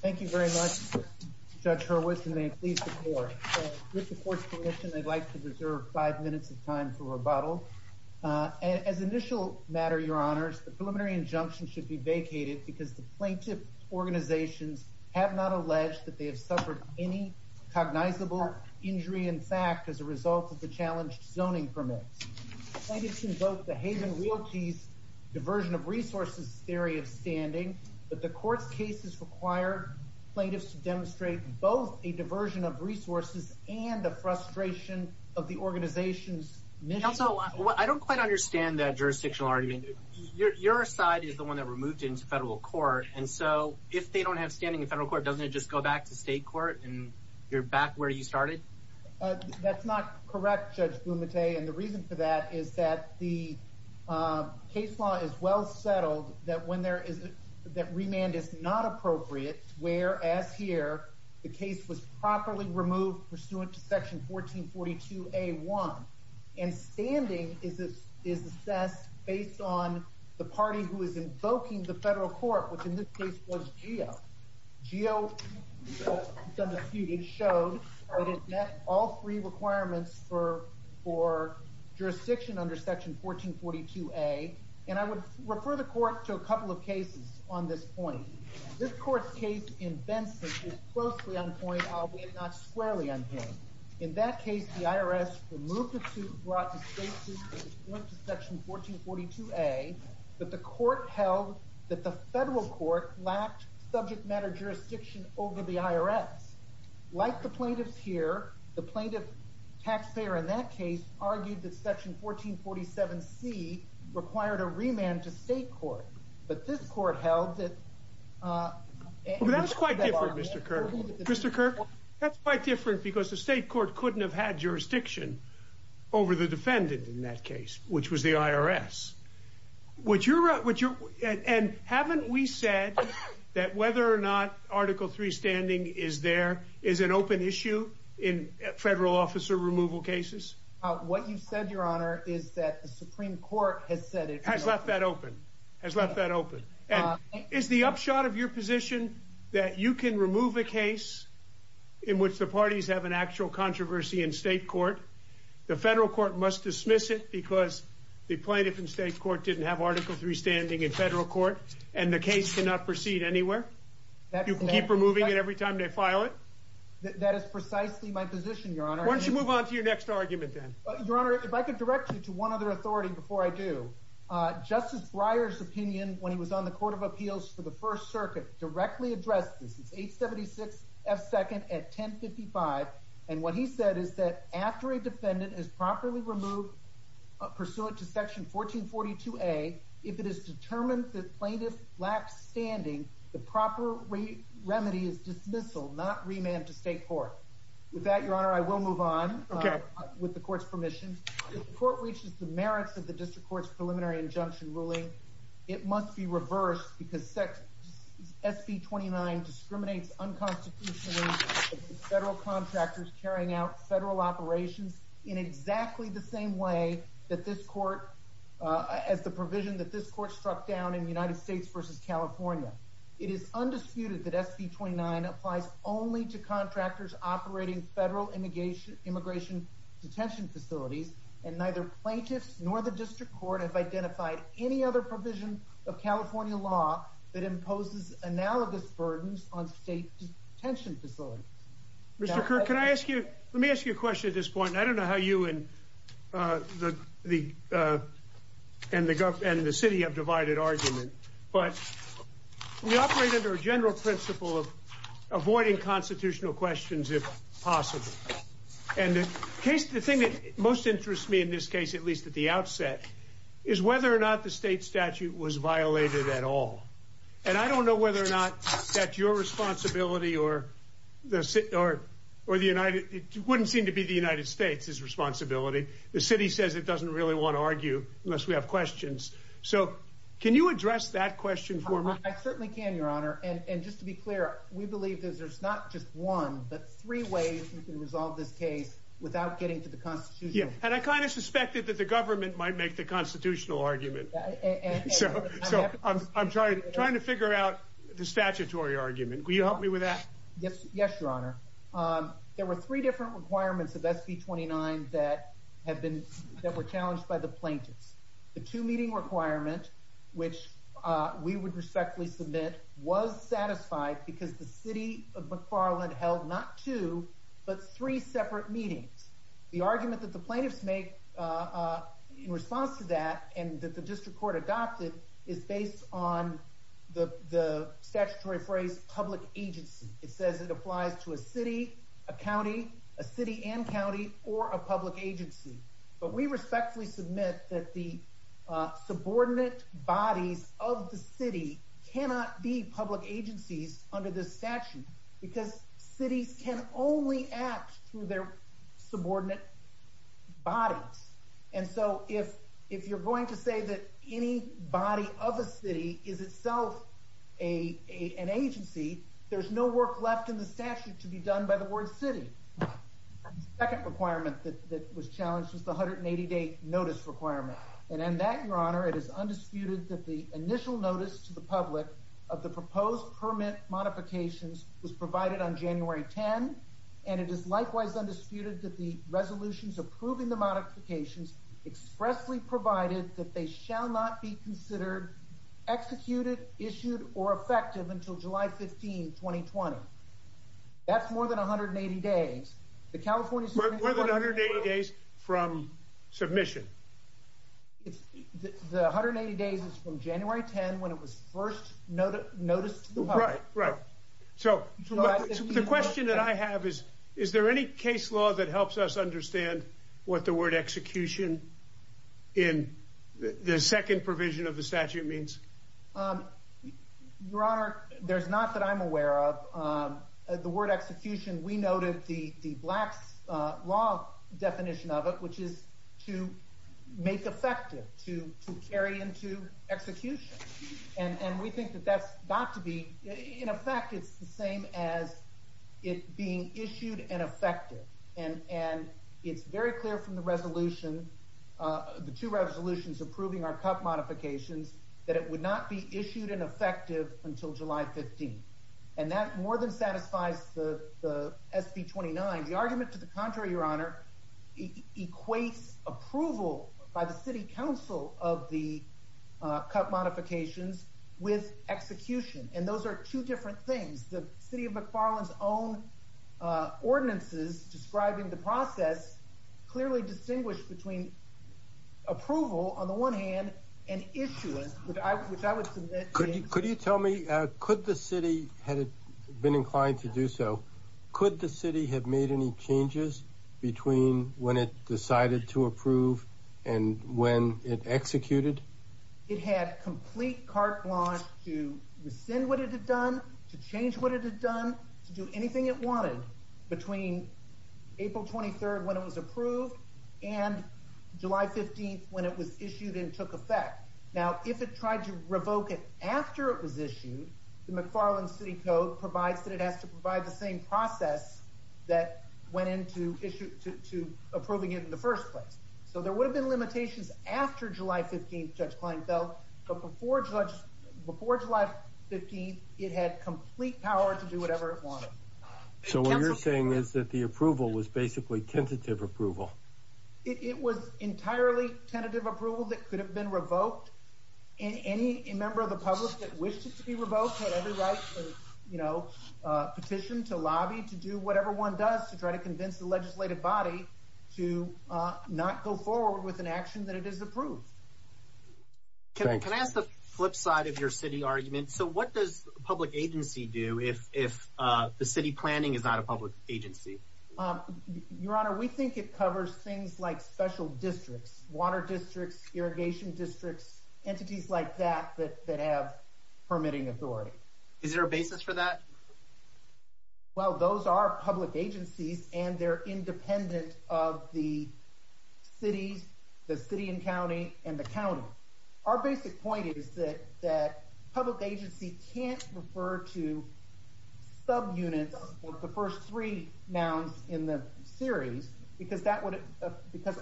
Thank you very much, Judge Hurwitz, and may it please the Court. With the Court's permission, I'd like to reserve five minutes of time for rebuttal. As initial matter, Your Honors, the preliminary injunction should be vacated because the plaintiff's organizations have not alleged that they have suffered any cognizable injury in fact as a result of the challenged zoning permits. Plaintiffs can vote the Haven Realty's Diversion of Resources Theory of Standing, but the Court's cases require plaintiffs to demonstrate both a diversion of resources and a frustration of the organization's mission. Counsel, I don't quite understand that jurisdictional argument. Your side is the one that were moved into federal court, and so if they don't have standing in federal court, doesn't it just go back to state court and you're back where you started? That's not correct, Judge Blumenthal, and the reason for that is that the case law is well settled that remand is not appropriate, whereas here the case was properly removed pursuant to Section 1442A.1, and standing is assessed based on the party who is invoking the federal court, which in this case was Geo. Geo showed that it met all three requirements for jurisdiction under Section 1442A, and I would refer the Court to a couple of cases on this point. This Court's case in Benson is closely on point, albeit not squarely on point. In that case, the IRS removed the suit brought to state court pursuant to Section 1442A, but the Court held that the federal court lacked subject matter jurisdiction over the IRS. Like the plaintiffs here, the plaintiff taxpayer in that case argued that Section 1447C required a remand to state court, but this Court held that... That's quite different, Mr. Kirk. Mr. Kirk, that's quite different because the state court couldn't have had jurisdiction over the defendant in that case, which was the IRS. And haven't we said that whether or not Article III standing is there is an open issue in federal officer removal cases? What you said, Your Honor, is that the Supreme Court has said it... Has left that open. Has left that open. And is the upshot of your position that you can remove a case in which the parties have an actual controversy in state court? The federal court must dismiss it because the plaintiff in state court didn't have Article III standing in federal court, and the case cannot proceed anywhere? You can keep removing it every time they file it? That is precisely my position, Your Honor. Why don't you move on to your next argument, then? Your Honor, if I could direct you to one other authority before I do. Justice Breyer's opinion when he was on the Court of Appeals for the First Circuit directly addressed this. And what he said is that after a defendant is properly removed pursuant to Section 1442A, if it is determined that plaintiff lacks standing, the proper remedy is dismissal, not remand to state court. With that, Your Honor, I will move on with the Court's permission. If the Court reaches the merits of the District Court's preliminary injunction ruling, it must be reversed because SB 29 discriminates unconstitutionally against federal contractors carrying out federal operations in exactly the same way as the provision that this Court struck down in United States v. California. It is undisputed that SB 29 applies only to contractors operating federal immigration detention facilities, and neither plaintiffs nor the District Court have identified any other provision of California law that imposes analogous burdens on state detention facilities. Mr. Kirk, let me ask you a question at this point. I don't know how you and the city have divided argument, but we operate under a general principle of avoiding constitutional questions if possible. And the thing that most interests me in this case, at least at the outset, is whether or not the state statute was violated at all. And I don't know whether or not that's your responsibility or the United States' responsibility. The city says it doesn't really want to argue unless we have questions. So can you address that question for me? I certainly can, Your Honor. And just to be clear, we believe that there's not just one but three ways we can resolve this case without getting to the Constitution. And I kind of suspected that the government might make the constitutional argument. So I'm trying to figure out the statutory argument. Will you help me with that? Yes, Your Honor. There were three different requirements of SB 29 that were challenged by the plaintiffs. The two-meeting requirement, which we would respectfully submit, was satisfied because the city of McFarland held not two but three separate meetings. The argument that the plaintiffs make in response to that and that the district court adopted is based on the statutory phrase public agency. It says it applies to a city, a county, a city and county, or a public agency. But we respectfully submit that the subordinate bodies of the city cannot be public agencies under this statute because cities can only act through their subordinate bodies. And so if you're going to say that any body of a city is itself an agency, there's no work left in the statute to be done by the word city. The second requirement that was challenged was the 180-day notice requirement. And in that, Your Honor, it is undisputed that the initial notice to the public of the proposed permit modifications was provided on January 10, and it is likewise undisputed that the resolutions approving the modifications expressly provided that they shall not be considered executed, issued, or effective until July 15, 2020. That's more than 180 days. More than 180 days from submission? The 180 days is from January 10 when it was first noticed to the public. Right, right. So the question that I have is, is there any case law that helps us understand what the word execution in the second provision of the statute means? Your Honor, there's not that I'm aware of. The word execution, we noted the black law definition of it, which is to make effective, to carry into execution. And we think that that's got to be, in effect, it's the same as it being issued and effective. And it's very clear from the resolution, the two resolutions approving our CUP modifications, that it would not be issued and effective until July 15. And that more than satisfies the SB 29. The argument to the contrary, Your Honor, equates approval by the city council of the CUP modifications with execution. And those are two different things. The city of McFarland's own ordinances describing the process clearly distinguish between approval, on the one hand, and issuance, which I would submit to you. Could you tell me, could the city, had it been inclined to do so, could the city have made any changes between when it decided to approve and when it executed? It had complete carte blanche to rescind what it had done, to change what it had done, to do anything it wanted between April 23rd when it was approved and July 15th when it was issued and took effect. Now, if it tried to revoke it after it was issued, the McFarland City Code provides that it has to provide the same process that went into approving it in the first place. So there would have been limitations after July 15th, Judge Kleinfeld, but before July 15th, it had complete power to do whatever it wanted. So what you're saying is that the approval was basically tentative approval? It was entirely tentative approval that could have been revoked. Any member of the public that wished it to be revoked had every right to petition, to lobby, to do whatever one does to try to convince the legislative body to not go forward with an action that it has approved. Can I ask the flip side of your city argument? So what does public agency do if the city planning is not a public agency? Your Honor, we think it covers things like special districts, water districts, irrigation districts, entities like that that have permitting authority. Is there a basis for that? Well, those are public agencies and they're independent of the cities, the city and county, and the county. Our basic point is that public agency can't refer to subunits or the first three nouns in the series because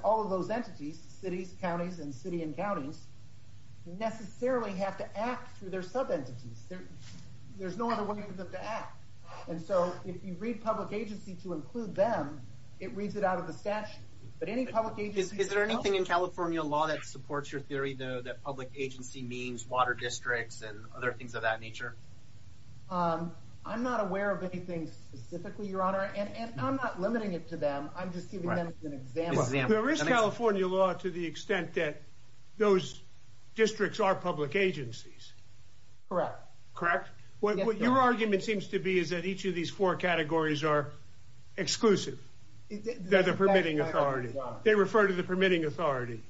all of those entities, cities, counties, and city and counties, necessarily have to act through their subentities. There's no other way for them to act. And so if you read public agency to include them, it reads it out of the statute. Is there anything in California law that supports your theory that public agency means water districts and other things of that nature? I'm not aware of anything specifically, Your Honor, and I'm not limiting it to them. I'm just giving them an example. There is California law to the extent that those districts are public agencies. Correct. Correct. What your argument seems to be is that each of these four categories are exclusive. They're the permitting authority. They refer to the permitting authority.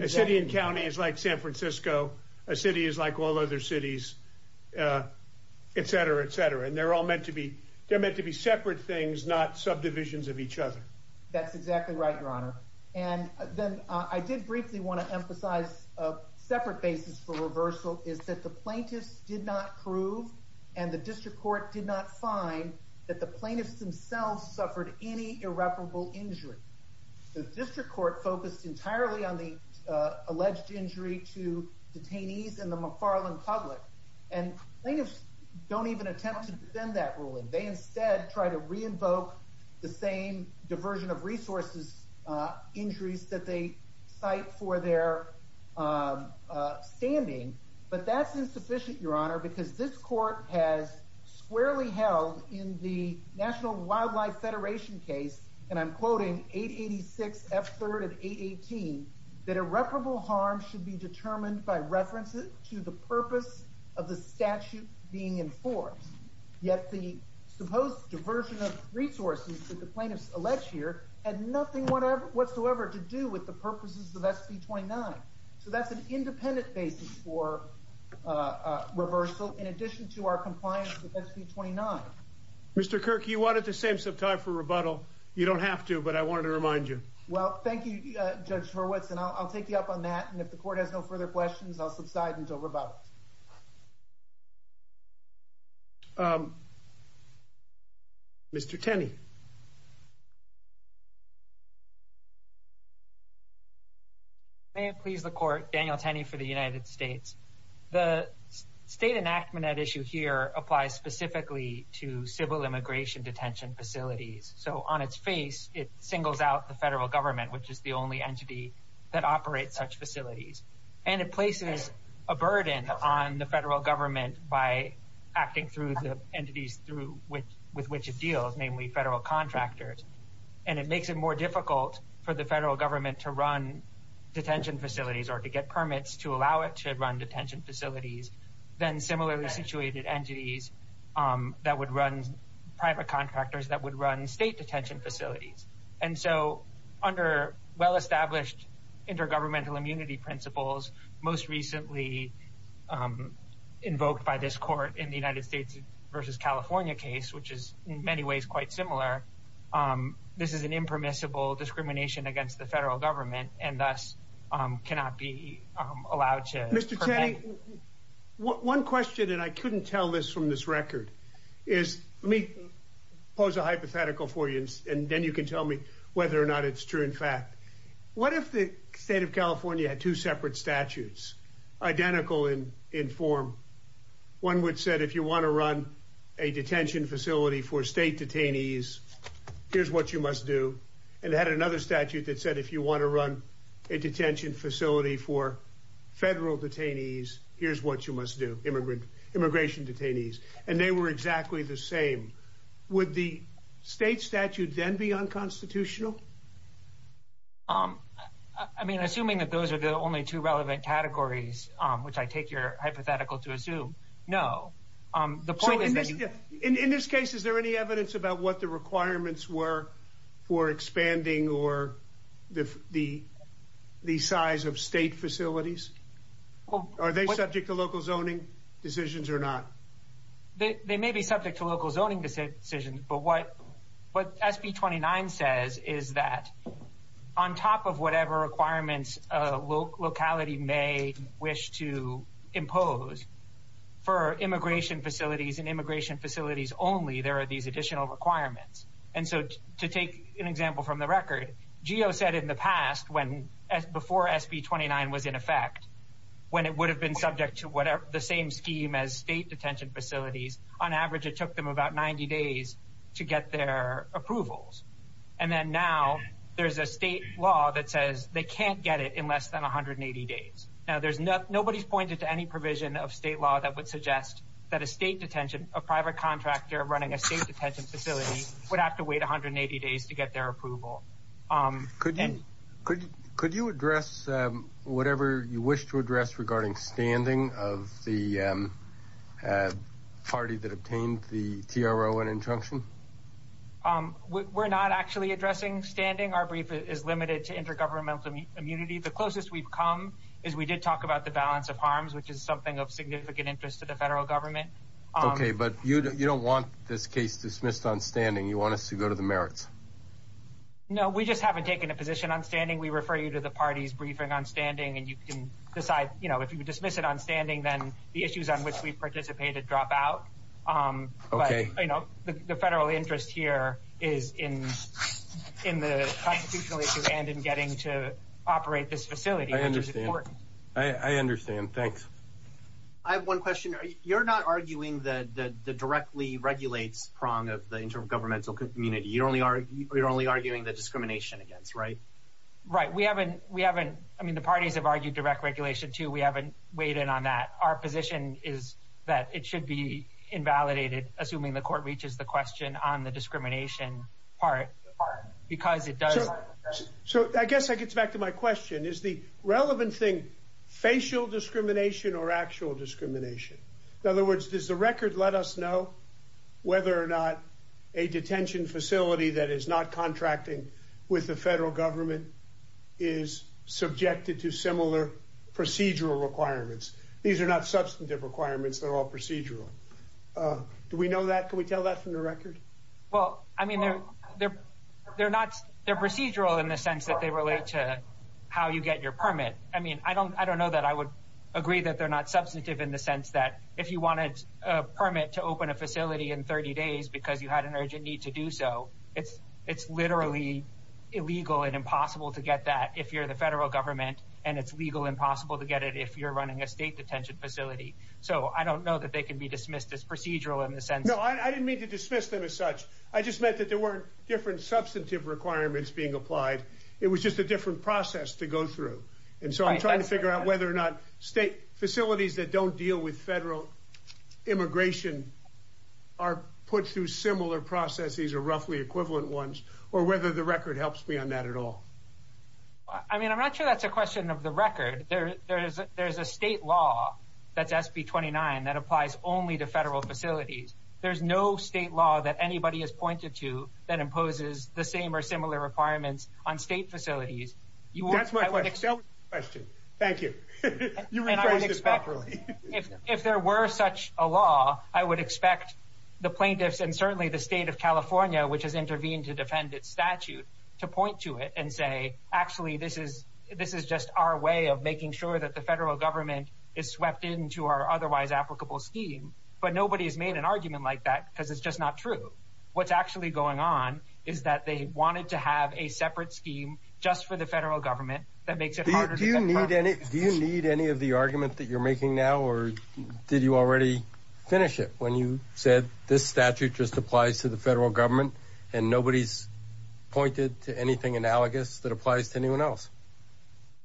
A city and county is like San Francisco. A city is like all other cities, et cetera, et cetera. And they're all meant to be separate things, not subdivisions of each other. That's exactly right, Your Honor. And then I did briefly want to emphasize a separate basis for reversal is that the plaintiffs did not prove and the district court did not find that the plaintiffs themselves suffered any irreparable injury. The district court focused entirely on the alleged injury to detainees and the McFarland public. And plaintiffs don't even attempt to defend that ruling. They instead try to re-invoke the same diversion of resources injuries that they cite for their standing. But that's insufficient, Your Honor, because this court has squarely held in the National Wildlife Federation case, and I'm quoting 886 F3rd and 818, that irreparable harm should be determined by reference to the purpose of the statute being enforced. Yet the supposed diversion of resources that the plaintiffs allege here had nothing whatsoever to do with the purposes of SB 29. So that's an independent basis for reversal in addition to our compliance with SB 29. Mr. Kirk, you wanted the same subtype for rebuttal. You don't have to, but I wanted to remind you. Well, thank you, Judge Horwitz, and I'll take you up on that. And if the court has no further questions, I'll subside until rebuttal. Mr. Tenney. May it please the Court, Daniel Tenney for the United States. The state enactment at issue here applies specifically to civil immigration detention facilities. So on its face, it singles out the federal government, which is the only entity that operates such facilities. And it places a burden on the federal government by acting through the entities with which it deals, namely federal contractors. And it makes it more difficult for the federal government to run detention facilities or to get permits to allow it to run detention facilities than similarly situated entities that would run private contractors that would run state detention facilities. And so under well-established intergovernmental immunity principles, most recently invoked by this court in the United States versus California case, which is in many ways quite similar. This is an impermissible discrimination against the federal government and thus cannot be allowed to. Mr. Tenney, one question, and I couldn't tell this from this record, is let me pose a hypothetical for you and then you can tell me whether or not it's true. In fact, what if the state of California had two separate statutes identical in form? One which said, if you want to run a detention facility for state detainees, here's what you must do. And had another statute that said, if you want to run a detention facility for federal detainees, here's what you must do. Immigrant immigration detainees. And they were exactly the same. Would the state statute then be unconstitutional? I mean, assuming that those are the only two relevant categories, which I take your hypothetical to assume, no. The point is that in this case, is there any evidence about what the requirements were for expanding or the the size of state facilities? Well, are they subject to local zoning decisions or not? They may be subject to local zoning decisions. But what SB 29 says is that on top of whatever requirements locality may wish to impose for immigration facilities and immigration facilities only, there are these additional requirements. And so to take an example from the record, GEO said in the past, before SB 29 was in effect, when it would have been subject to the same scheme as state detention facilities, on average, it took them about 90 days to get their approvals. And then now there's a state law that says they can't get it in less than 180 days. Now, nobody's pointed to any provision of state law that would suggest that a state detention, a private contractor running a state detention facility would have to wait 180 days to get their approval. Could you address whatever you wish to address regarding standing of the party that obtained the TRO and injunction? We're not actually addressing standing. Our brief is limited to intergovernmental immunity. The closest we've come is we did talk about the balance of harms, which is something of significant interest to the federal government. OK, but you don't want this case dismissed on standing. You want us to go to the merits. No, we just haven't taken a position on standing. We refer you to the party's briefing on standing. And you can decide, you know, if you dismiss it on standing, then the issues on which we participated drop out. OK, you know, the federal interest here is in in the constitutionally and in getting to operate this facility. I understand. I understand. Thanks. I have one question. You're not arguing that the directly regulates prong of the intergovernmental community. You only are you're only arguing the discrimination against. Right. Right. We haven't we haven't. I mean, the parties have argued direct regulation, too. We haven't weighed in on that. Our position is that it should be invalidated. Assuming the court reaches the question on the discrimination part because it does. So I guess I gets back to my question. Is the relevant thing facial discrimination or actual discrimination? In other words, does the record let us know whether or not a detention facility that is not contracting with the federal government is subjected to similar procedural requirements? These are not substantive requirements. They're all procedural. Do we know that? Can we tell that from the record? Well, I mean, they're they're they're not they're procedural in the sense that they relate to how you get your permit. I mean, I don't I don't know that I would agree that they're not substantive in the sense that if you wanted a permit to open a facility in 30 days because you had an urgent need to do so. It's it's literally illegal and impossible to get that if you're the federal government and it's legal, impossible to get it if you're running a state detention facility. So I don't know that they can be dismissed as procedural in the sense. No, I didn't mean to dismiss them as such. I just meant that there were different substantive requirements being applied. It was just a different process to go through. And so I'm trying to figure out whether or not state facilities that don't deal with federal immigration are put through similar processes or whether these are roughly equivalent ones or whether the record helps me on that at all. I mean, I'm not sure that's a question of the record. There is there is a state law that SB 29 that applies only to federal facilities. There's no state law that anybody has pointed to that imposes the same or similar requirements on state facilities. That's my question. Thank you. If if there were such a law, I would expect the plaintiffs and certainly the state of California, which has intervened to defend its statute, to point to it and say, actually, this is this is just our way of making sure that the federal government is swept into our otherwise applicable scheme. But nobody has made an argument like that because it's just not true. What's actually going on is that they wanted to have a separate scheme just for the federal government. That makes it harder. Do you need any do you need any of the argument that you're making now? Or did you already finish it when you said this statute just applies to the federal government and nobody's pointed to anything analogous that applies to anyone else?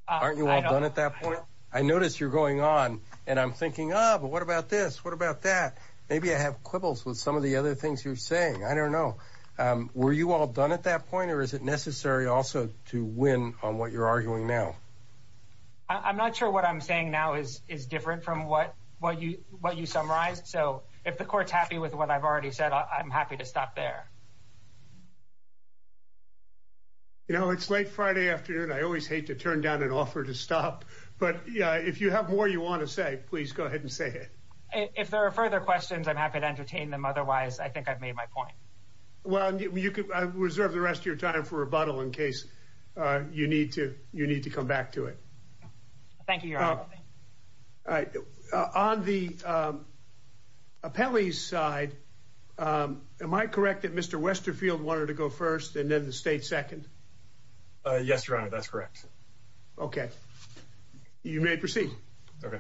Aren't you all done at that point? I noticed you're going on and I'm thinking, oh, but what about this? What about that? Maybe I have quibbles with some of the other things you're saying. I don't know. Were you all done at that point or is it necessary also to win on what you're arguing now? I'm not sure what I'm saying now is is different from what what you what you summarized. So if the court's happy with what I've already said, I'm happy to stop there. You know, it's late Friday afternoon. I always hate to turn down an offer to stop. But if you have more, you want to say, please go ahead and say it. If there are further questions, I'm happy to entertain them. Otherwise, I think I've made my point. Well, you could reserve the rest of your time for rebuttal in case you need to. You need to come back to it. Thank you. All right. On the appellee's side. Am I correct that Mr. Westerfield wanted to go first and then the state second? Yes, your honor. That's correct. OK. You may proceed. OK.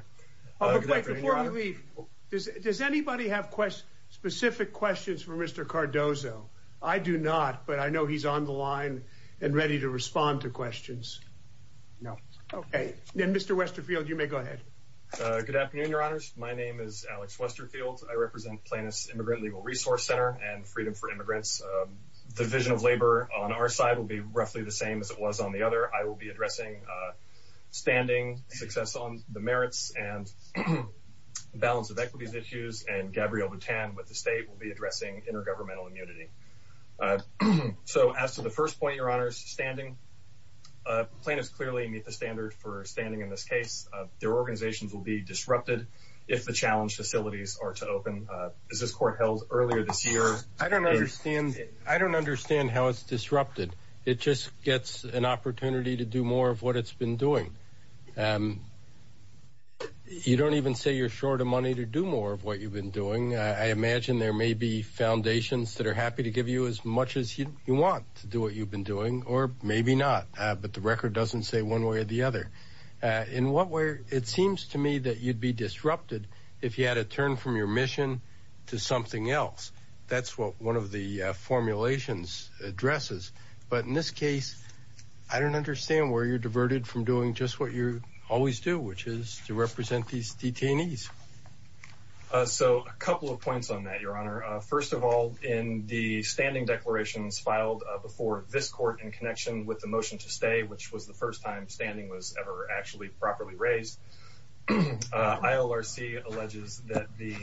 Before we leave. Does anybody have questions, specific questions for Mr. Cardozo? I do not. But I know he's on the line and ready to respond to questions. No. OK. Then, Mr. Westerfield, you may go ahead. Good afternoon, your honors. My name is Alex Westerfield. I represent Plaintiff's Immigrant Legal Resource Center and Freedom for Immigrants. Division of Labor on our side will be roughly the same as it was on the other. I will be addressing standing success on the merits and balance of equities issues. And Gabrielle Boutin with the state will be addressing intergovernmental immunity. So as to the first point, your honors, standing plaintiffs clearly meet the standard for standing in this case. Their organizations will be disrupted if the challenge facilities are to open. Is this court held earlier this year? I don't understand. I don't understand how it's disrupted. It just gets an opportunity to do more of what it's been doing. You don't even say you're short of money to do more of what you've been doing. I imagine there may be foundations that are happy to give you as much as you want to do what you've been doing or maybe not. But the record doesn't say one way or the other. In what way? It seems to me that you'd be disrupted if you had to turn from your mission to something else. That's what one of the formulations addresses. But in this case, I don't understand where you're diverted from doing just what you always do, which is to represent these detainees. So a couple of points on that, your honor. First of all, in the standing declarations filed before this court in connection with the motion to stay, which was the first time standing was ever actually properly raised, ILRC alleges that the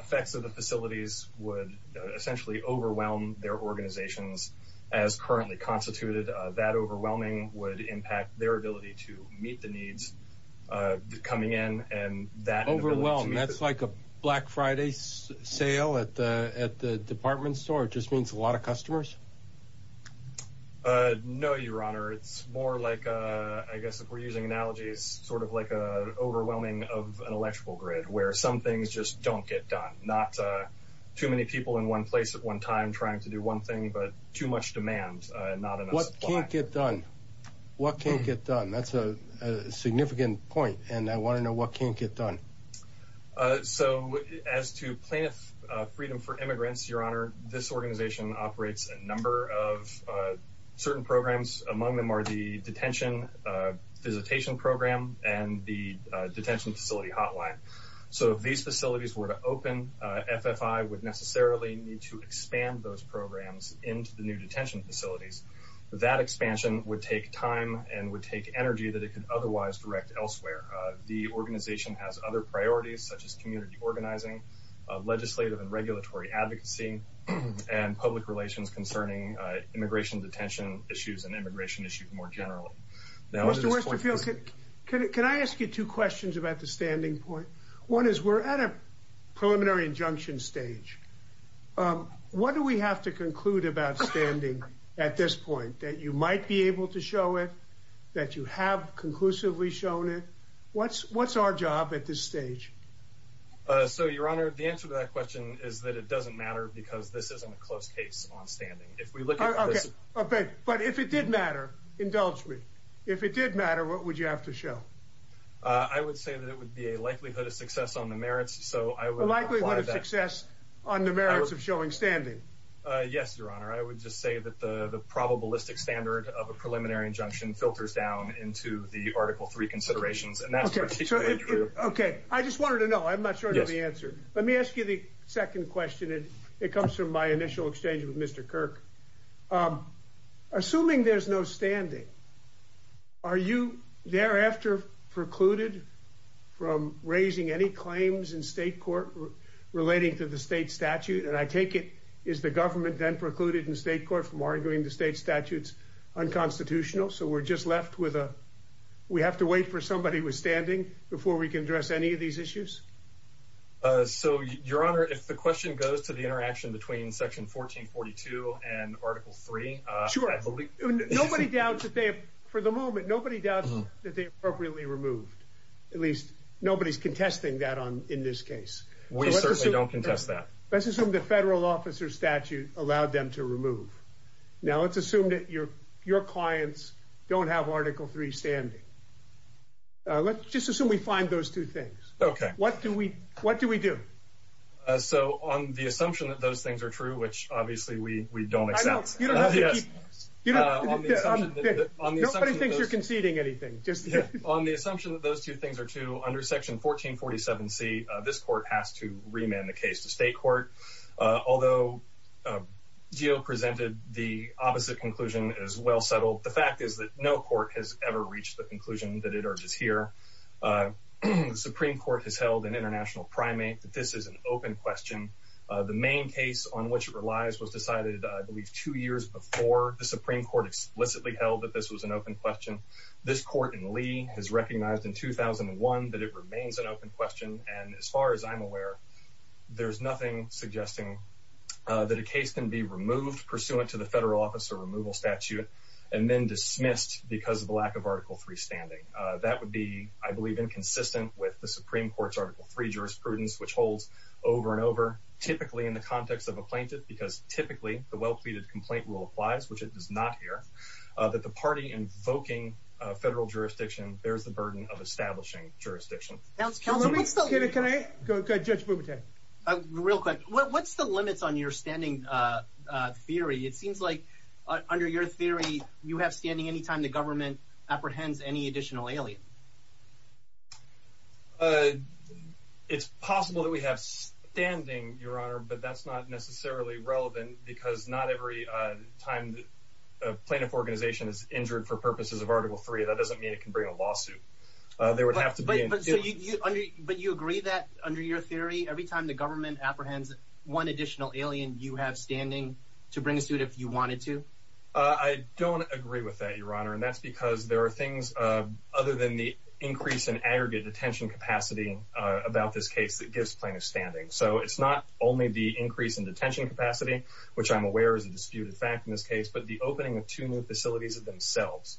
effects of the facilities would essentially overwhelm their organizations as currently constituted. That overwhelming would impact their ability to meet the needs coming in and that overwhelm. That's like a Black Friday sale at the at the department store. It just means a lot of customers. No, your honor. It's more like, I guess, if we're using analogies, sort of like a overwhelming of an electrical grid where some things just don't get done. Not too many people in one place at one time trying to do one thing, but too much demand. What can't get done? What can't get done? That's a significant point. And I want to know what can't get done. So as to plaintiff freedom for immigrants, your honor, this organization operates a number of certain programs. Among them are the detention visitation program and the detention facility hotline. So if these facilities were to open, FFI would necessarily need to expand those programs into the new detention facilities. That expansion would take time and would take energy that it could otherwise direct elsewhere. The organization has other priorities such as community organizing, legislative and regulatory advocacy, and public relations concerning immigration detention issues and immigration issues more generally. Mr. Westerfield, can I ask you two questions about the standing point? One is we're at a preliminary injunction stage. What do we have to conclude about standing at this point that you might be able to show it, that you have conclusively shown it? What's what's our job at this stage? So, your honor, the answer to that question is that it doesn't matter because this isn't a close case on standing. But if it did matter, indulge me, if it did matter, what would you have to show? I would say that it would be a likelihood of success on the merits. So I would like to have success on the merits of showing standing. Yes, your honor. I would just say that the probabilistic standard of a preliminary injunction filters down into the article three considerations. And that's OK. I just wanted to know. I'm not sure the answer. Let me ask you the second question. It comes from my initial exchange with Mr. Kirk. Assuming there's no standing. Are you thereafter precluded from raising any claims in state court relating to the state statute? And I take it is the government then precluded in state court from arguing the state statutes unconstitutional. So we're just left with a we have to wait for somebody with standing before we can address any of these issues. So, your honor, if the question goes to the interaction between Section 1442 and Article three. Sure. Nobody doubts that they have for the moment. Nobody does that. They are really removed. At least nobody's contesting that on in this case. We certainly don't contest that. This is from the federal officer statute allowed them to remove. Now, let's assume that your your clients don't have Article three standing. Let's just assume we find those two things. OK, what do we what do we do? So on the assumption that those things are true, which obviously we we don't accept. You know, on the assumption that nobody thinks you're conceding anything. Just on the assumption that those two things are true under Section 1447. See, this court has to remand the case to state court. Although Gio presented the opposite conclusion as well settled. The fact is that no court has ever reached the conclusion that it is here. The Supreme Court has held an international primate that this is an open question. The main case on which it relies was decided, I believe, two years before the Supreme Court explicitly held that this was an open question. This court in Lee has recognized in 2001 that it remains an open question. And as far as I'm aware, there's nothing suggesting that a case can be removed pursuant to the federal officer removal statute and then dismissed because of the lack of Article three standing. That would be, I believe, inconsistent with the Supreme Court's Article three jurisprudence, which holds over and over, typically in the context of a plaintiff, because typically the well-pleaded complaint rule applies, which it does not hear that the party invoking federal jurisdiction. There's the burden of establishing jurisdiction. Can I go to a real quick. What's the limits on your standing theory? It seems like under your theory, you have standing any time the government apprehends any additional alien. It's possible that we have standing your honor, but that's not necessarily relevant because not every time the plaintiff organization is injured for purposes of Article three. That doesn't mean it can bring a lawsuit. There would have to be. But you agree that under your theory, every time the government apprehends one additional alien, you have standing to bring a suit if you wanted to. I don't agree with that, your honor. And that's because there are things other than the increase in aggregate detention capacity about this case that gives plaintiff standing. So it's not only the increase in detention capacity, which I'm aware is a disputed fact in this case, but the opening of two new facilities of themselves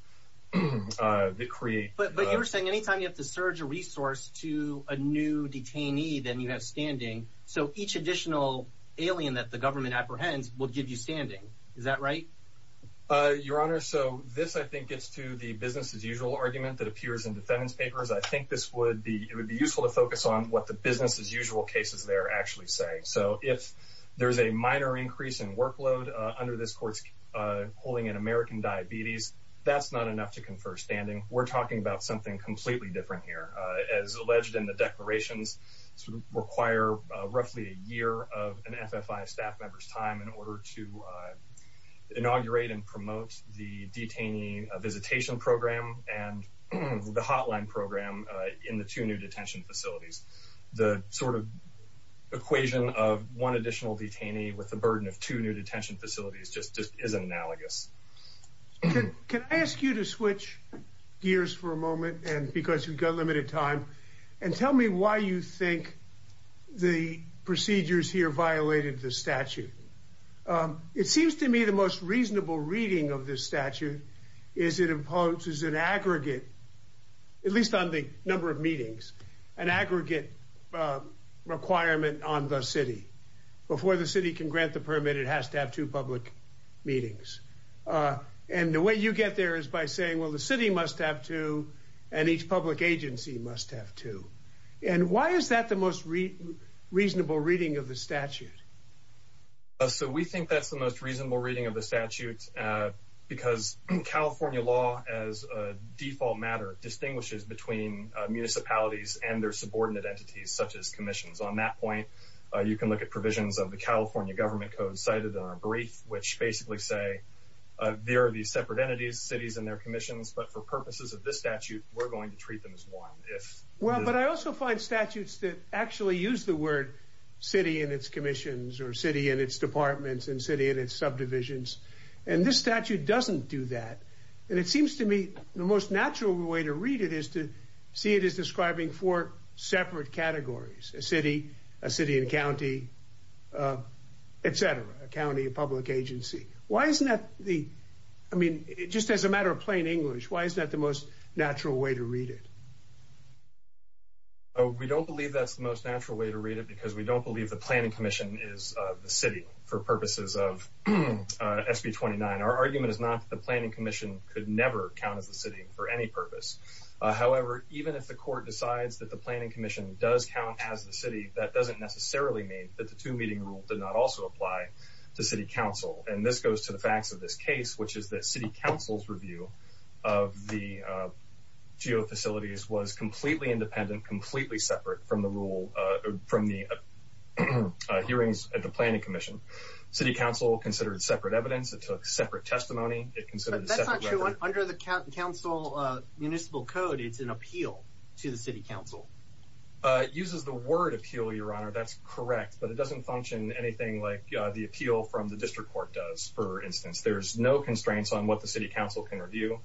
that create. But you were saying any time you have to surge a resource to a new detainee, then you have standing. So each additional alien that the government apprehends will give you standing. Is that right? Your honor. So this, I think, gets to the business as usual argument that appears in defendants papers. I think this would be it would be useful to focus on what the business as usual cases they're actually saying. So if there is a minor increase in workload under this court's holding an American diabetes, that's not enough to confer standing. We're talking about something completely different here, as alleged in the declarations. Require roughly a year of an FFI staff member's time in order to inaugurate and promote the detainee visitation program and the hotline program in the two new detention facilities. The sort of equation of one additional detainee with the burden of two new detention facilities just isn't analogous. Can I ask you to switch gears for a moment? And because you've got limited time and tell me why you think the procedures here violated the statute. It seems to me the most reasonable reading of this statute is it imposes an aggregate. At least on the number of meetings, an aggregate requirement on the city before the city can grant the permit, it has to have two public meetings. And the way you get there is by saying, well, the city must have to and each public agency must have to. And why is that the most reasonable reading of the statute? So we think that's the most reasonable reading of the statute because California law, as a default matter, distinguishes between municipalities and their subordinate entities, such as commissions. On that point, you can look at provisions of the California government code cited in our brief, which basically say there are these separate entities, cities and their commissions. But for purposes of this statute, we're going to treat them as one. Well, but I also find statutes that actually use the word city and its commissions or city and its departments and city and its subdivisions. And this statute doesn't do that. And it seems to me the most natural way to read it is to see it as describing four separate categories, a city, a city and county, etc., a county, a public agency. Why isn't that the I mean, just as a matter of plain English, why is that the most natural way to read it? Oh, we don't believe that's the most natural way to read it because we don't believe the planning commission is the city for purposes of SB 29. Our argument is not the planning commission could never count as the city for any purpose. However, even if the court decides that the planning commission does count as the city, that doesn't necessarily mean that the two meeting rule did not also apply to city council. And this goes to the facts of this case, which is that city council's review of the geofacilities was completely independent, completely separate from the rule from the hearings at the planning commission. City council considered separate evidence. It took separate testimony. It considered under the council municipal code. It's an appeal to the city council. It uses the word appeal. Your honor, that's correct. But it doesn't function anything like the appeal from the district court does. For instance, there's no constraints on what the city council can review.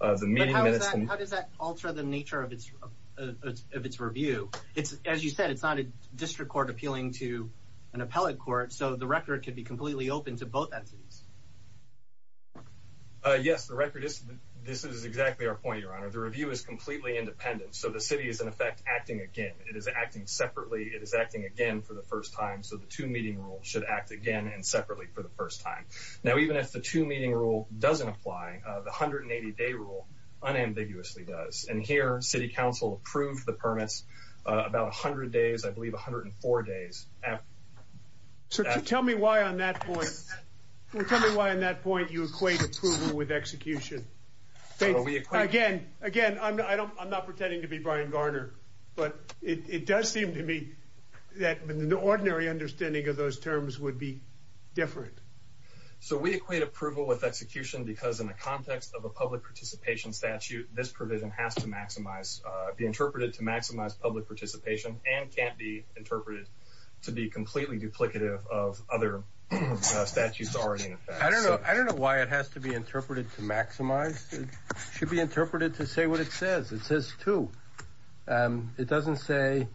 The meeting minutes. How does that alter the nature of its of its review? It's as you said, it's not a district court appealing to an appellate court. So the record could be completely open to both entities. Yes, the record is. This is exactly our point. Your honor, the review is completely independent. So the city is, in effect, acting again. It is acting separately. It is acting again for the first time. So the two meeting rule should act again and separately for the first time. Now, even if the two meeting rule doesn't apply, the 180 day rule unambiguously does. And here, city council approved the permits about 100 days, I believe, 104 days. So tell me why on that point. Tell me why on that point you equate approval with execution. Again, again, I'm not pretending to be Brian Garner, but it does seem to me that the ordinary understanding of those terms would be different. So we equate approval with execution because in the context of a public participation statute, this provision has to be interpreted to maximize public participation and can't be interpreted to be completely duplicative of other statutes already in effect. I don't know. I don't know why it has to be interpreted to maximize. It should be interpreted to say what it says. It says two. It doesn't say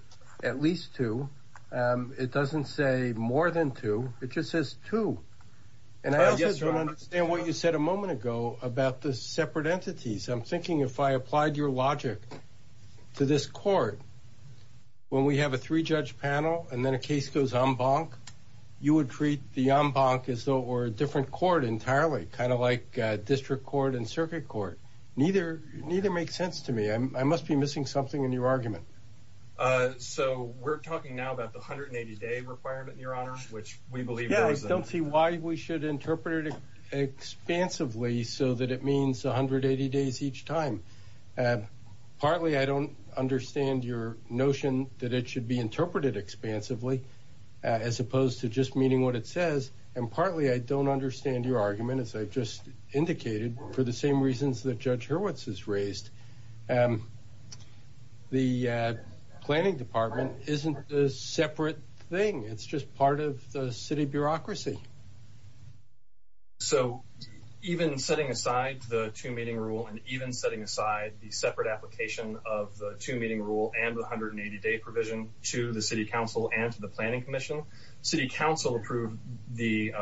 at least two. It doesn't say more than two. It just says two. And I just don't understand what you said a moment ago about the separate entities. I'm thinking if I applied your logic to this court, when we have a three judge panel and then a case goes on bonk, you would treat the on bonk as though or a different court entirely, kind of like district court and circuit court. Neither. Neither makes sense to me. I must be missing something in your argument. So we're talking now about the 180 day requirement in your honor, which we believe. Yeah, I don't see why we should interpret it expansively so that it means 180 days each time. Partly, I don't understand your notion that it should be interpreted expansively as opposed to just meeting what it says. And partly, I don't understand your argument, as I've just indicated, for the same reasons that Judge Hurwitz has raised. The planning department isn't a separate thing. It's just part of the city bureaucracy. So even setting aside the two meeting rule and even setting aside the separate application of the two meeting rule and the 180 day provision to the city council and to the planning commission, city council approved the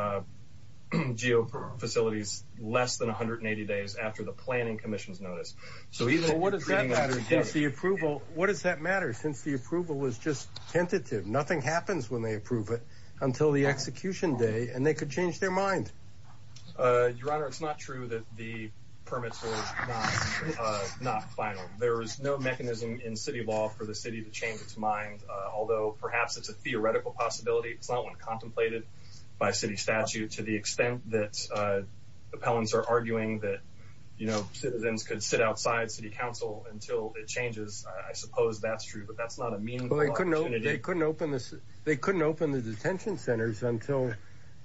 geo facilities less than 180 days after the planning commission's notice. So even what is the approval? What does that matter? Since the approval was just tentative, nothing happens when they approve it until the execution day and they could change their mind. Your Honor, it's not true that the permits are not final. There is no mechanism in city law for the city to change its mind, although perhaps it's a theoretical possibility. It's not one contemplated by city statute to the extent that appellants are arguing that, you know, citizens could sit outside city council until it changes. I suppose that's true, but that's not a mean they couldn't open this. They couldn't open the detention centers until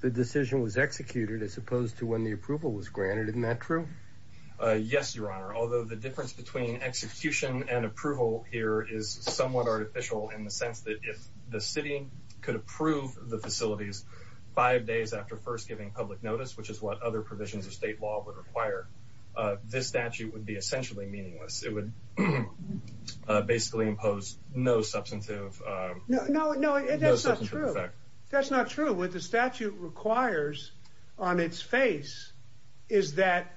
the decision was executed as opposed to when the approval was granted. Isn't that true? Yes, Your Honor, although the difference between execution and approval here is somewhat artificial in the sense that if the city could approve the facilities five days after first giving public notice, which is what other provisions of state law would require, this statute would be essentially meaningless. It would basically impose no substantive effect. No, that's not true. That's not true. What the statute requires on its face is that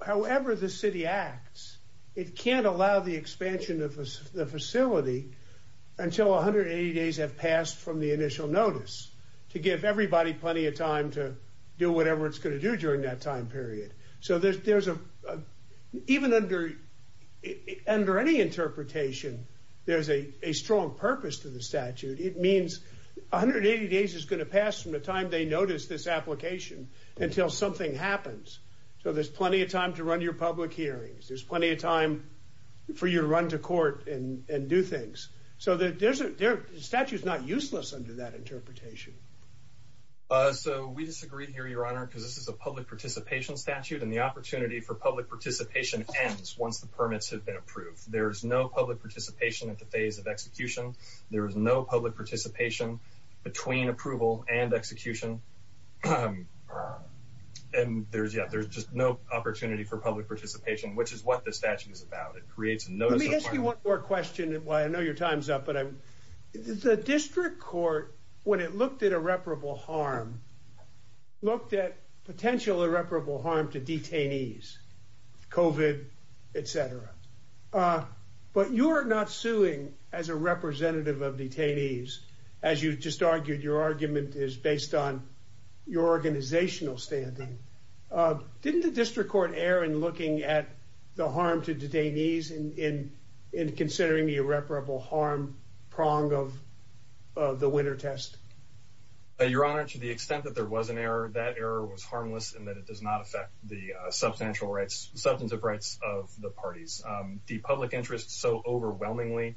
however the city acts, it can't allow the expansion of the facility until 180 days have passed from the initial notice to give everybody plenty of time to do whatever it's going to do during that time period. So even under any interpretation, there's a strong purpose to the statute. It means 180 days is going to pass from the time they notice this application until something happens. So there's plenty of time to run your public hearings. There's plenty of time for you to run to court and do things. So we disagree here, Your Honor, because this is a public participation statute, and the opportunity for public participation ends once the permits have been approved. There is no public participation at the phase of execution. There is no public participation between approval and execution. And there's just no opportunity for public participation, which is what this statute is about. Let me ask you one more question while I know your time's up. The district court, when it looked at irreparable harm, looked at potential irreparable harm to detainees, COVID, et cetera. But you're not suing as a representative of detainees. As you just argued, your argument is based on your organizational standing. Didn't the district court err in looking at the harm to detainees in considering the irreparable harm prong of the winter test? Your Honor, to the extent that there was an error, that error was harmless in that it does not affect the substantive rights of the parties. The public interest so overwhelmingly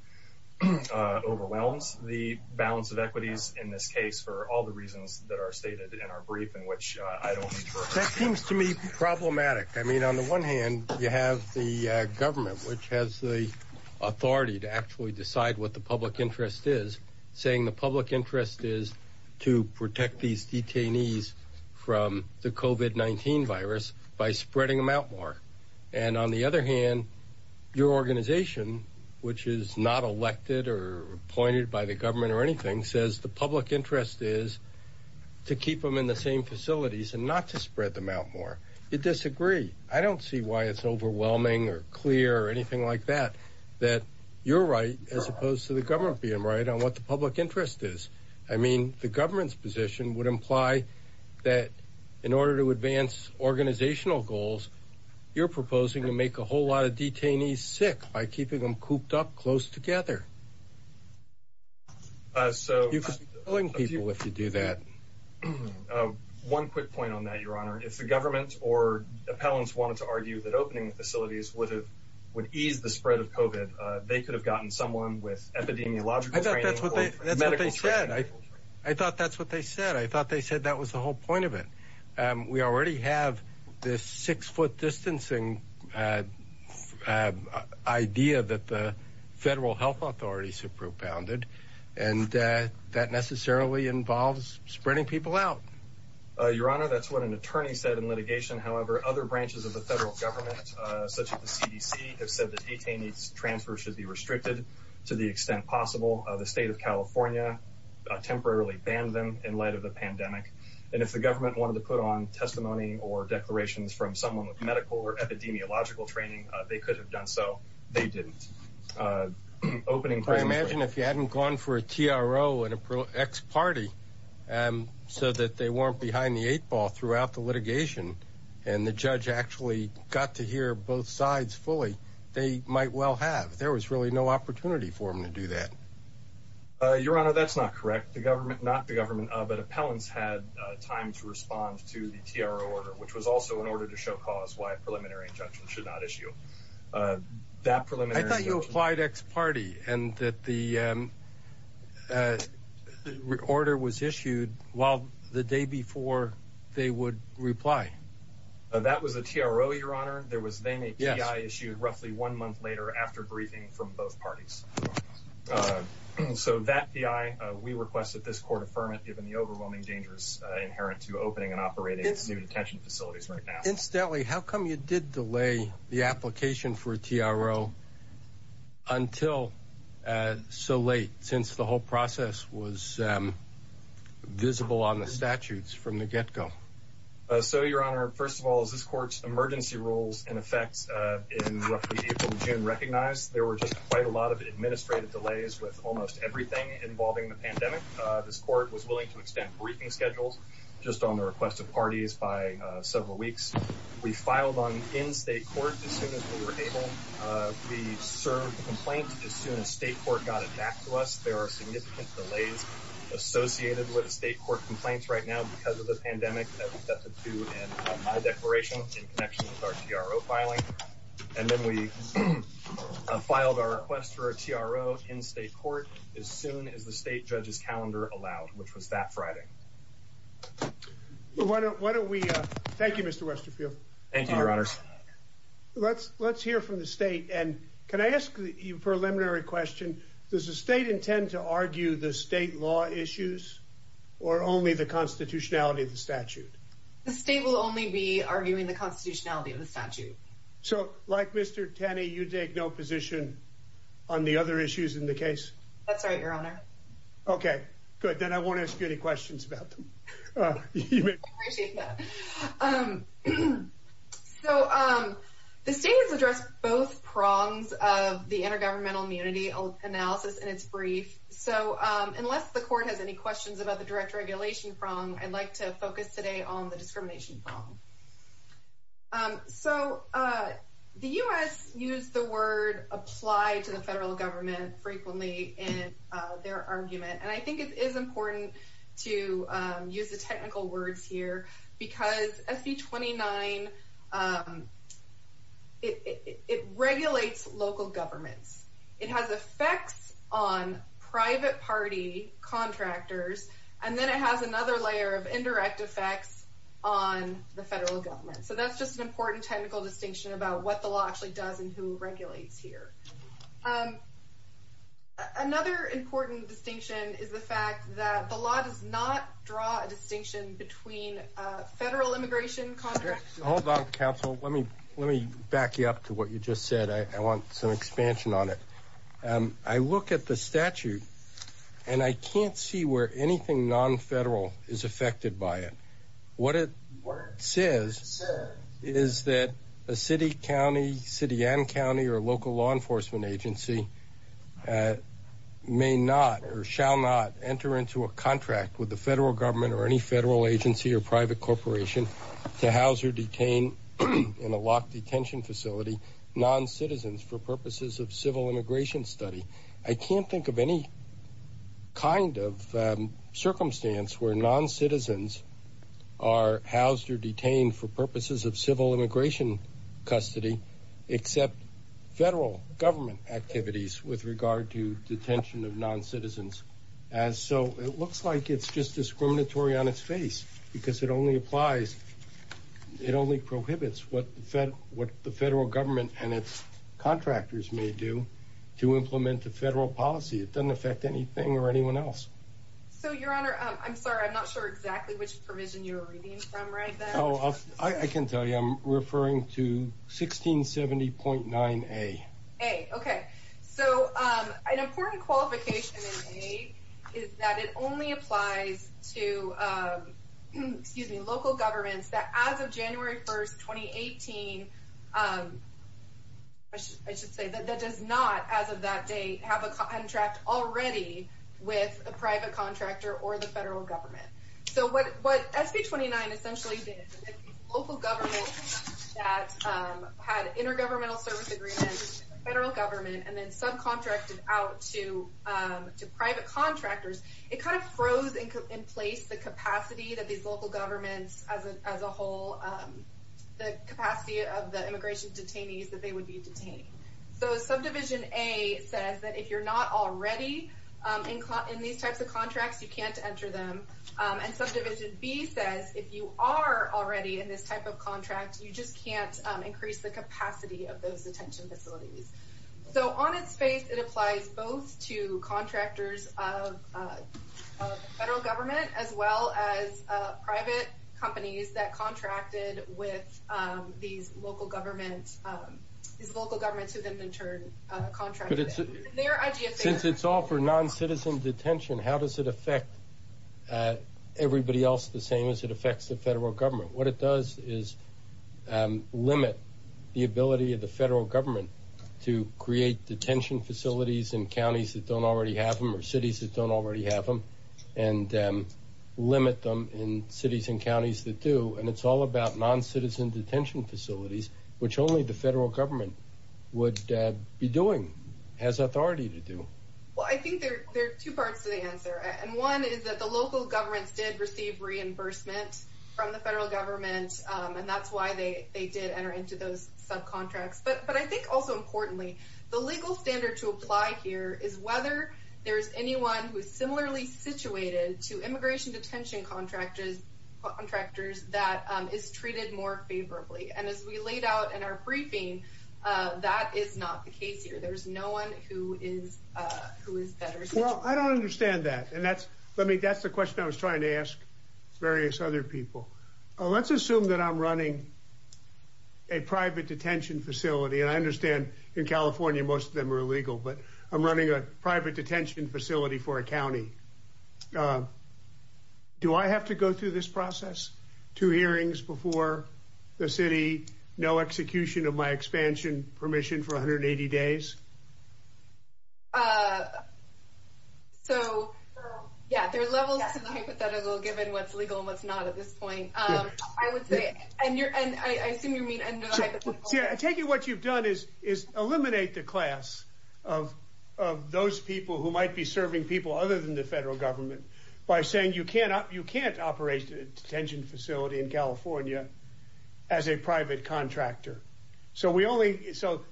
overwhelms the balance of equities in this case for all the reasons that are stated in our brief, in which I don't need to refer to. That seems to me problematic. I mean, on the one hand, you have the government, which has the authority to actually decide what the public interest is, saying the public interest is to protect these detainees from the COVID-19 virus by spreading them out more. And on the other hand, your organization, which is not elected or appointed by the government or anything, says the public interest is to keep them in the same facilities and not to spread them out more. You disagree. I don't see why it's overwhelming or clear or anything like that, that you're right as opposed to the government being right on what the public interest is. I mean, the government's position would imply that in order to advance organizational goals, you're proposing to make a whole lot of detainees sick by keeping them cooped up close together. So you can keep killing people if you do that. One quick point on that, Your Honor, if the government or appellants wanted to argue that opening facilities would have would ease the spread of COVID, they could have gotten someone with epidemiological training. That's what they said. I thought that's what they said. I thought they said that was the whole point of it. We already have this six foot distancing idea that the federal health authorities have propounded, and that necessarily involves spreading people out. Your Honor, that's what an attorney said in litigation. However, other branches of the federal government, such as the CDC, have said that detainees transfer should be restricted to the extent possible. The state of California temporarily banned them in light of the pandemic. And if the government wanted to put on testimony or declarations from someone with medical or epidemiological training, they could have done so. I imagine if you hadn't gone for a T.R.O. and a pro X party so that they weren't behind the eight ball throughout the litigation and the judge actually got to hear both sides fully, they might well have. There was really no opportunity for him to do that. Your Honor, that's not correct. The government, not the government, but appellants had time to respond to the T.R.O. order, which was also in order to show cause why a preliminary injunction should not issue. That preliminary... I thought you applied X party and that the order was issued while the day before they would reply. That was a T.R.O., Your Honor. There was then a P.I. issued roughly one month later after briefing from both parties. So that P.I., we request that this court affirm it given the overwhelming dangers inherent to opening and operating new detention facilities right now. Incidentally, how come you did delay the application for a T.R.O. until so late since the whole process was visible on the statutes from the get go? So, Your Honor, first of all, as this court's emergency rules in effect in June recognized, there were just quite a lot of administrative delays with almost everything involving the pandemic. This court was willing to extend briefing schedules just on the request of parties by several weeks. We filed on in state court as soon as we were able. We served the complaint as soon as state court got it back to us. There are significant delays associated with state court complaints right now because of the pandemic that we've got to do in my declaration in connection with our T.R.O. filing. And then we filed our request for a T.R.O. in state court as soon as the state judge's calendar allowed, which was that Friday. Thank you, Mr. Westerfield. Thank you, Your Honor. Let's hear from the state. Can I ask you a preliminary question? Does the state intend to argue the state law issues or only the constitutionality of the statute? The state will only be arguing the constitutionality of the statute. So, like Mr. Tenney, you take no position on the other issues in the case? That's right, Your Honor. Okay, good. Then I won't ask you any questions about them. So, the state has addressed both prongs of the intergovernmental immunity analysis in its brief. So, unless the court has any questions about the direct regulation prong, I'd like to focus today on the discrimination prong. So, the U.S. used the word apply to the federal government frequently in their argument. And I think it is important to use the technical words here because SB 29, it regulates local governments. It has effects on private party contractors. And then it has another layer of indirect effects on the federal government. So, that's just an important technical distinction about what the law actually does and who regulates here. Another important distinction is the fact that the law does not draw a distinction between federal immigration contracts. Hold on, counsel. Let me back you up to what you just said. I want some expansion on it. I look at the statute and I can't see where anything non-federal is affected by it. What it says is that a city, county, city and county or local law enforcement agency may not or shall not enter into a contract with the federal government or any federal agency or private corporation to house or detain in a locked detention facility non-citizens for purposes of civil immigration study. I can't think of any kind of circumstance where non-citizens are housed or detained for purposes of civil immigration custody except federal government activities with regard to detention of non-citizens. So, it looks like it's just discriminatory on its face because it only prohibits what the federal government and its contractors may do to implement the federal policy. It doesn't affect anything or anyone else. So, your honor, I'm sorry. I'm not sure exactly which provision you're reading from right now. I can tell you. I'm referring to 1670.9A. Okay. So, an important qualification in A is that it only applies to local governments that as of January 1st, 2018, I should say, that does not as of that date have a contract already with a private contractor or the federal government. So, what SB 29 essentially did is local governments that had intergovernmental service agreements with the federal government and then subcontracted out to private contractors. It kind of froze in place the capacity that these local governments as a whole, the capacity of the immigration detainees that they would be detained. So, Subdivision A says that if you're not already in these types of contracts, you can't enter them. And Subdivision B says if you are already in this type of contract, you just can't increase the capacity of those detention facilities. So, on its face, it applies both to contractors of federal government as well as private companies that contracted with these local governments, these local governments who then in turn contracted them. Since it's all for non-citizen detention, how does it affect everybody else the same as it affects the federal government? What it does is limit the ability of the federal government to create detention facilities in counties that don't already have them or cities that don't already have them and limit them in cities and counties that do. And it's all about non-citizen detention facilities, which only the federal government would be doing, has authority to do. Well, I think there are two parts to the answer. And one is that the local governments did receive reimbursement from the federal government, and that's why they did enter into those subcontracts. But I think also importantly, the legal standard to apply here is whether there is anyone who is similarly situated to immigration detention contractors that is treated more favorably. And as we laid out in our briefing, that is not the case here. There is no one who is better situated. Well, I don't understand that. And that's the question I was trying to ask various other people. Let's assume that I'm running a private detention facility, and I understand in California most of them are illegal, but I'm running a private detention facility for a county. Do I have to go through this process, two hearings before the city, no execution of my expansion permission for 180 days? So, yeah, there are levels to the hypothetical, given what's legal and what's not at this point. I would say, and I assume you mean under the hypothetical. See, I take it what you've done is eliminate the class of those people who might be serving people other than the federal government by saying you can't operate a detention facility in California as a private contractor. So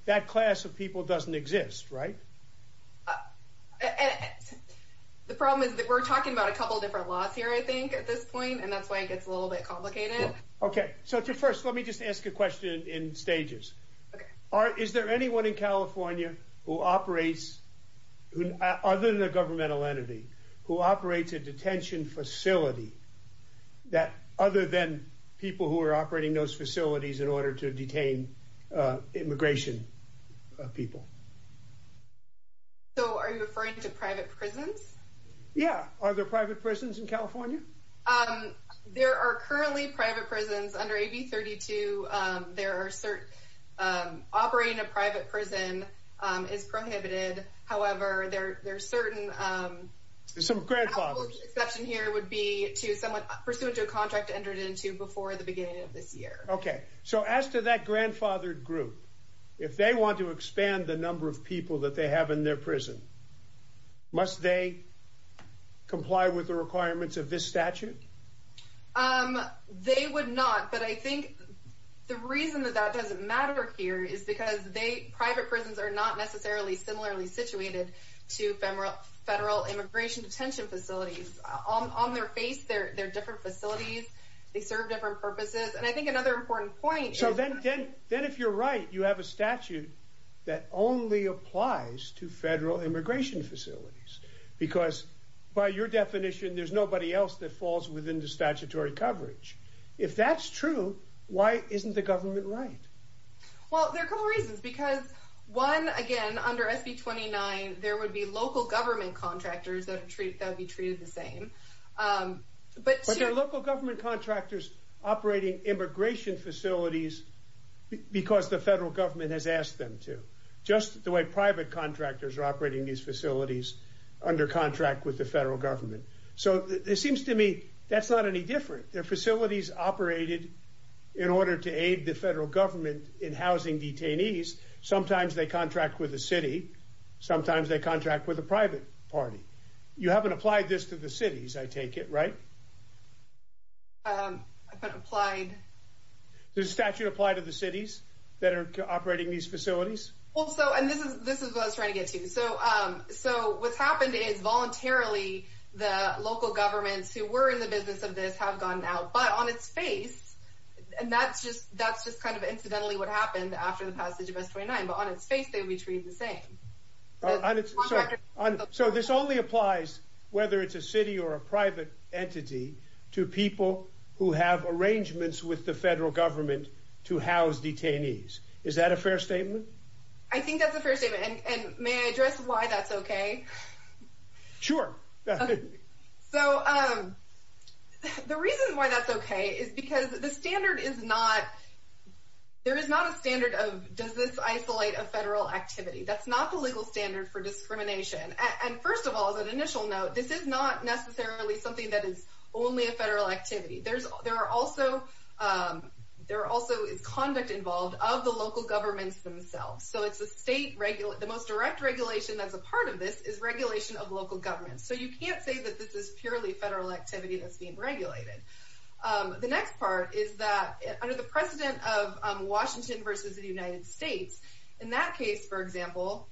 that class of people doesn't exist, right? The problem is that we're talking about a couple of different laws here, I think, at this point, and that's why it gets a little bit complicated. So first, let me just ask a question in stages. Is there anyone in California who operates, other than a governmental entity, who operates a detention facility other than people who are operating those facilities in order to detain immigration people? So are you referring to private prisons? Yeah, are there private prisons in California? There are currently private prisons under AB 32. Operating a private prison is prohibited. However, there are certain exceptions here would be to someone pursuant to a contract entered into before the beginning of this year. Okay, so as to that grandfathered group, if they want to expand the number of people that they have in their prison, must they comply with the requirements of this statute? They would not, but I think the reason that that doesn't matter here is because private prisons are not necessarily similarly situated to federal immigration detention facilities. On their face, they're different facilities. They serve different purposes, and I think another important point is... So then if you're right, you have a statute that only applies to federal immigration facilities, because by your definition, there's nobody else that falls within the statutory coverage. If that's true, why isn't the government right? Well, there are a couple reasons, because one, again, under SB 29, there would be local government contractors that would be treated the same. But there are local government contractors operating immigration facilities because the federal government has asked them to. Just the way private contractors are operating these facilities under contract with the federal government. So it seems to me that's not any different. They're facilities operated in order to aid the federal government in housing detainees. Sometimes they contract with the city. Sometimes they contract with a private party. You haven't applied this to the cities, I take it, right? I haven't applied... Does the statute apply to the cities that are operating these facilities? Well, so, and this is what I was trying to get to. So what's happened is voluntarily, the local governments who were in the business of this have gone out. But on its face, and that's just kind of incidentally what happened after the passage of SB 29, but on its face, they would be treated the same. So this only applies, whether it's a city or a private entity, to people who have arrangements with the federal government to house detainees. Is that a fair statement? I think that's a fair statement, and may I address why that's okay? Sure. So the reason why that's okay is because the standard is not... There is not a standard of, does this isolate a federal activity? That's not the legal standard for discrimination. And first of all, as an initial note, this is not necessarily something that is only a federal activity. There also is conduct involved of the local governments themselves. So it's the state, the most direct regulation that's a part of this is regulation of local governments. So you can't say that this is purely federal activity that's being regulated. The next part is that under the precedent of Washington versus the United States, in that case, for example,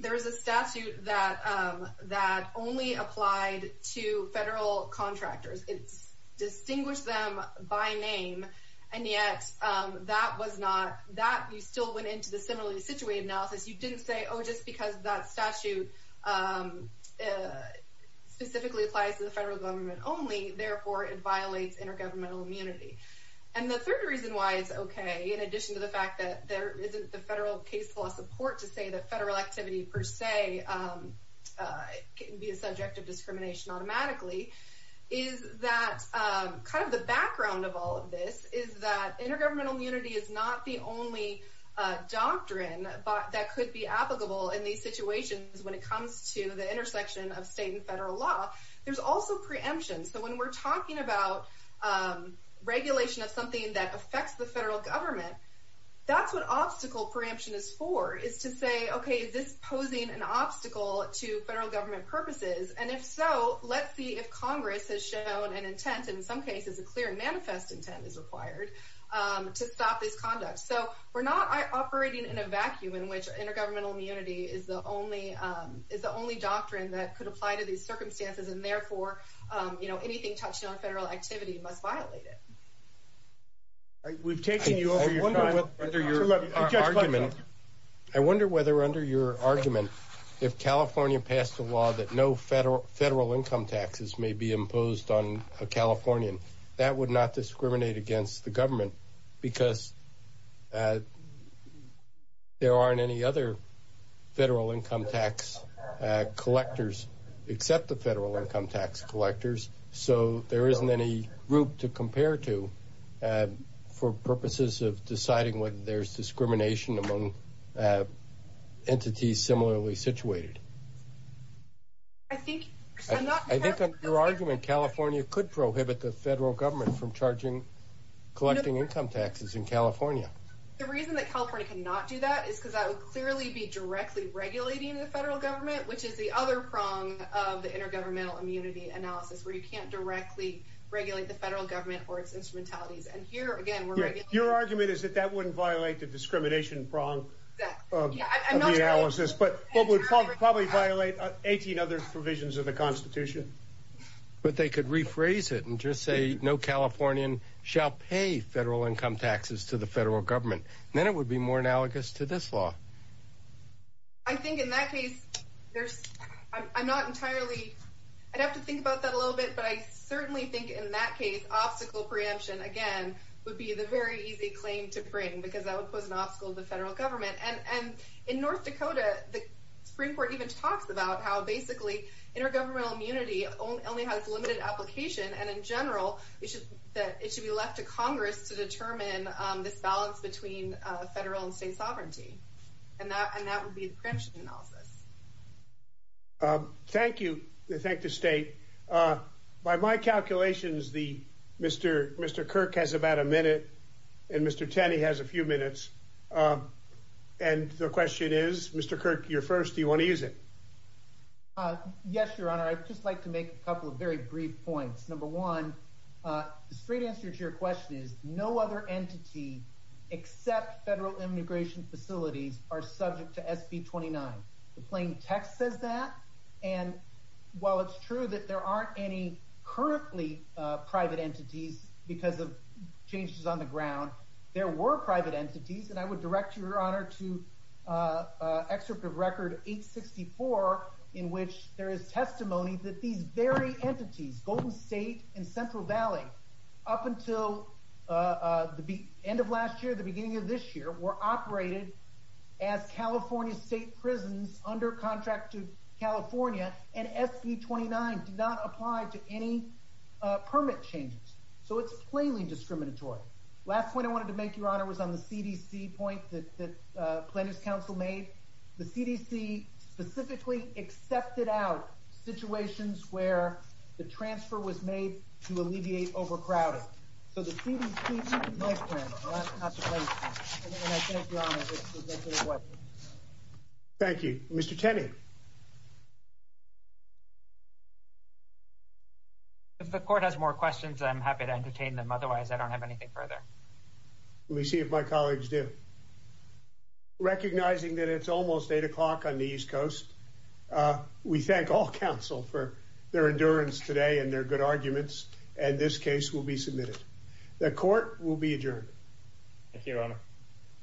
there is a statute that only applied to federal contractors. It's distinguished them by name, and yet that was not, that you still went into the similarly situated analysis. You didn't say, oh, just because that statute specifically applies to the federal government only, therefore it violates intergovernmental immunity. And the third reason why it's okay, in addition to the fact that there isn't the federal case law support to say that federal activity per se can be a subject of discrimination automatically, is that kind of the background of all of this is that intergovernmental immunity is not the only doctrine that could be applicable in these situations when it comes to the intersection of state and federal law. There's also preemption. So when we're talking about regulation of something that affects the federal government, that's what obstacle preemption is for, is to say, okay, is this posing an obstacle to federal government purposes? And if so, let's see if Congress has shown an intent, in some cases a clear manifest intent is required to stop this conduct. So we're not operating in a vacuum in which intergovernmental immunity is the only doctrine that could apply to these circumstances, and therefore anything touching on federal activity must violate it. I wonder whether under your argument, if California passed a law that no federal income taxes may be imposed on a Californian, that would not discriminate against the government, because there aren't any other federal income tax collectors except the federal income tax collectors, so there isn't any group to compare to for purposes of deciding whether there's discrimination among entities similarly situated. I think under your argument, California could prohibit the federal government from charging, collecting income taxes in California. The reason that California cannot do that is because that would clearly be directly regulating the federal government, which is the other prong of the intergovernmental immunity analysis, where you can't directly regulate the federal government or its instrumentalities. Your argument is that that wouldn't violate the discrimination prong of the analysis, but it would probably violate 18 other provisions of the Constitution. But they could rephrase it and just say no Californian shall pay federal income taxes to the federal government. Then it would be more analogous to this law. I'd have to think about that a little bit, but I certainly think in that case, obstacle preemption, again, would be the very easy claim to bring, because that would pose an obstacle to the federal government. In North Dakota, the Supreme Court even talks about how basically intergovernmental immunity only has limited application, and in general, it should be left to Congress to determine this balance between federal and state sovereignty. And that would be the preemption analysis. Thank you. Thank you, State. By my calculations, Mr. Kirk has about a minute and Mr. Tenney has a few minutes. And the question is, Mr. Kirk, you're first. Do you want to use it? Yes, Your Honor. I'd just like to make a couple of very brief points. Number one, the straight answer to your question is no other entity except federal immigration facilities are subject to SB 29. The plain text says that. And while it's true that there aren't any currently private entities because of changes on the ground, there were private entities. And I would direct Your Honor to excerpt of Record 864, in which there is testimony that these very entities, Golden State and Central Valley, up until the end of last year, the beginning of this year, were operated as California state prisons under contract to California, and SB 29 did not apply to any permit changes. So it's plainly discriminatory. Last point I wanted to make, Your Honor, was on the CDC point that Plaintiffs' Council made. The CDC specifically accepted out situations where the transfer was made to alleviate overcrowding. So the CDC didn't make that point. And I thank Your Honor for making that point. Thank you. Mr. Tenney. If the court has more questions, I'm happy to entertain them. Otherwise, I don't have anything further. Let me see if my colleagues do. Recognizing that it's almost 8 o'clock on the East Coast, we thank all counsel for their endurance today and their good arguments, and this case will be submitted. The court will be adjourned. Thank you, Your Honor.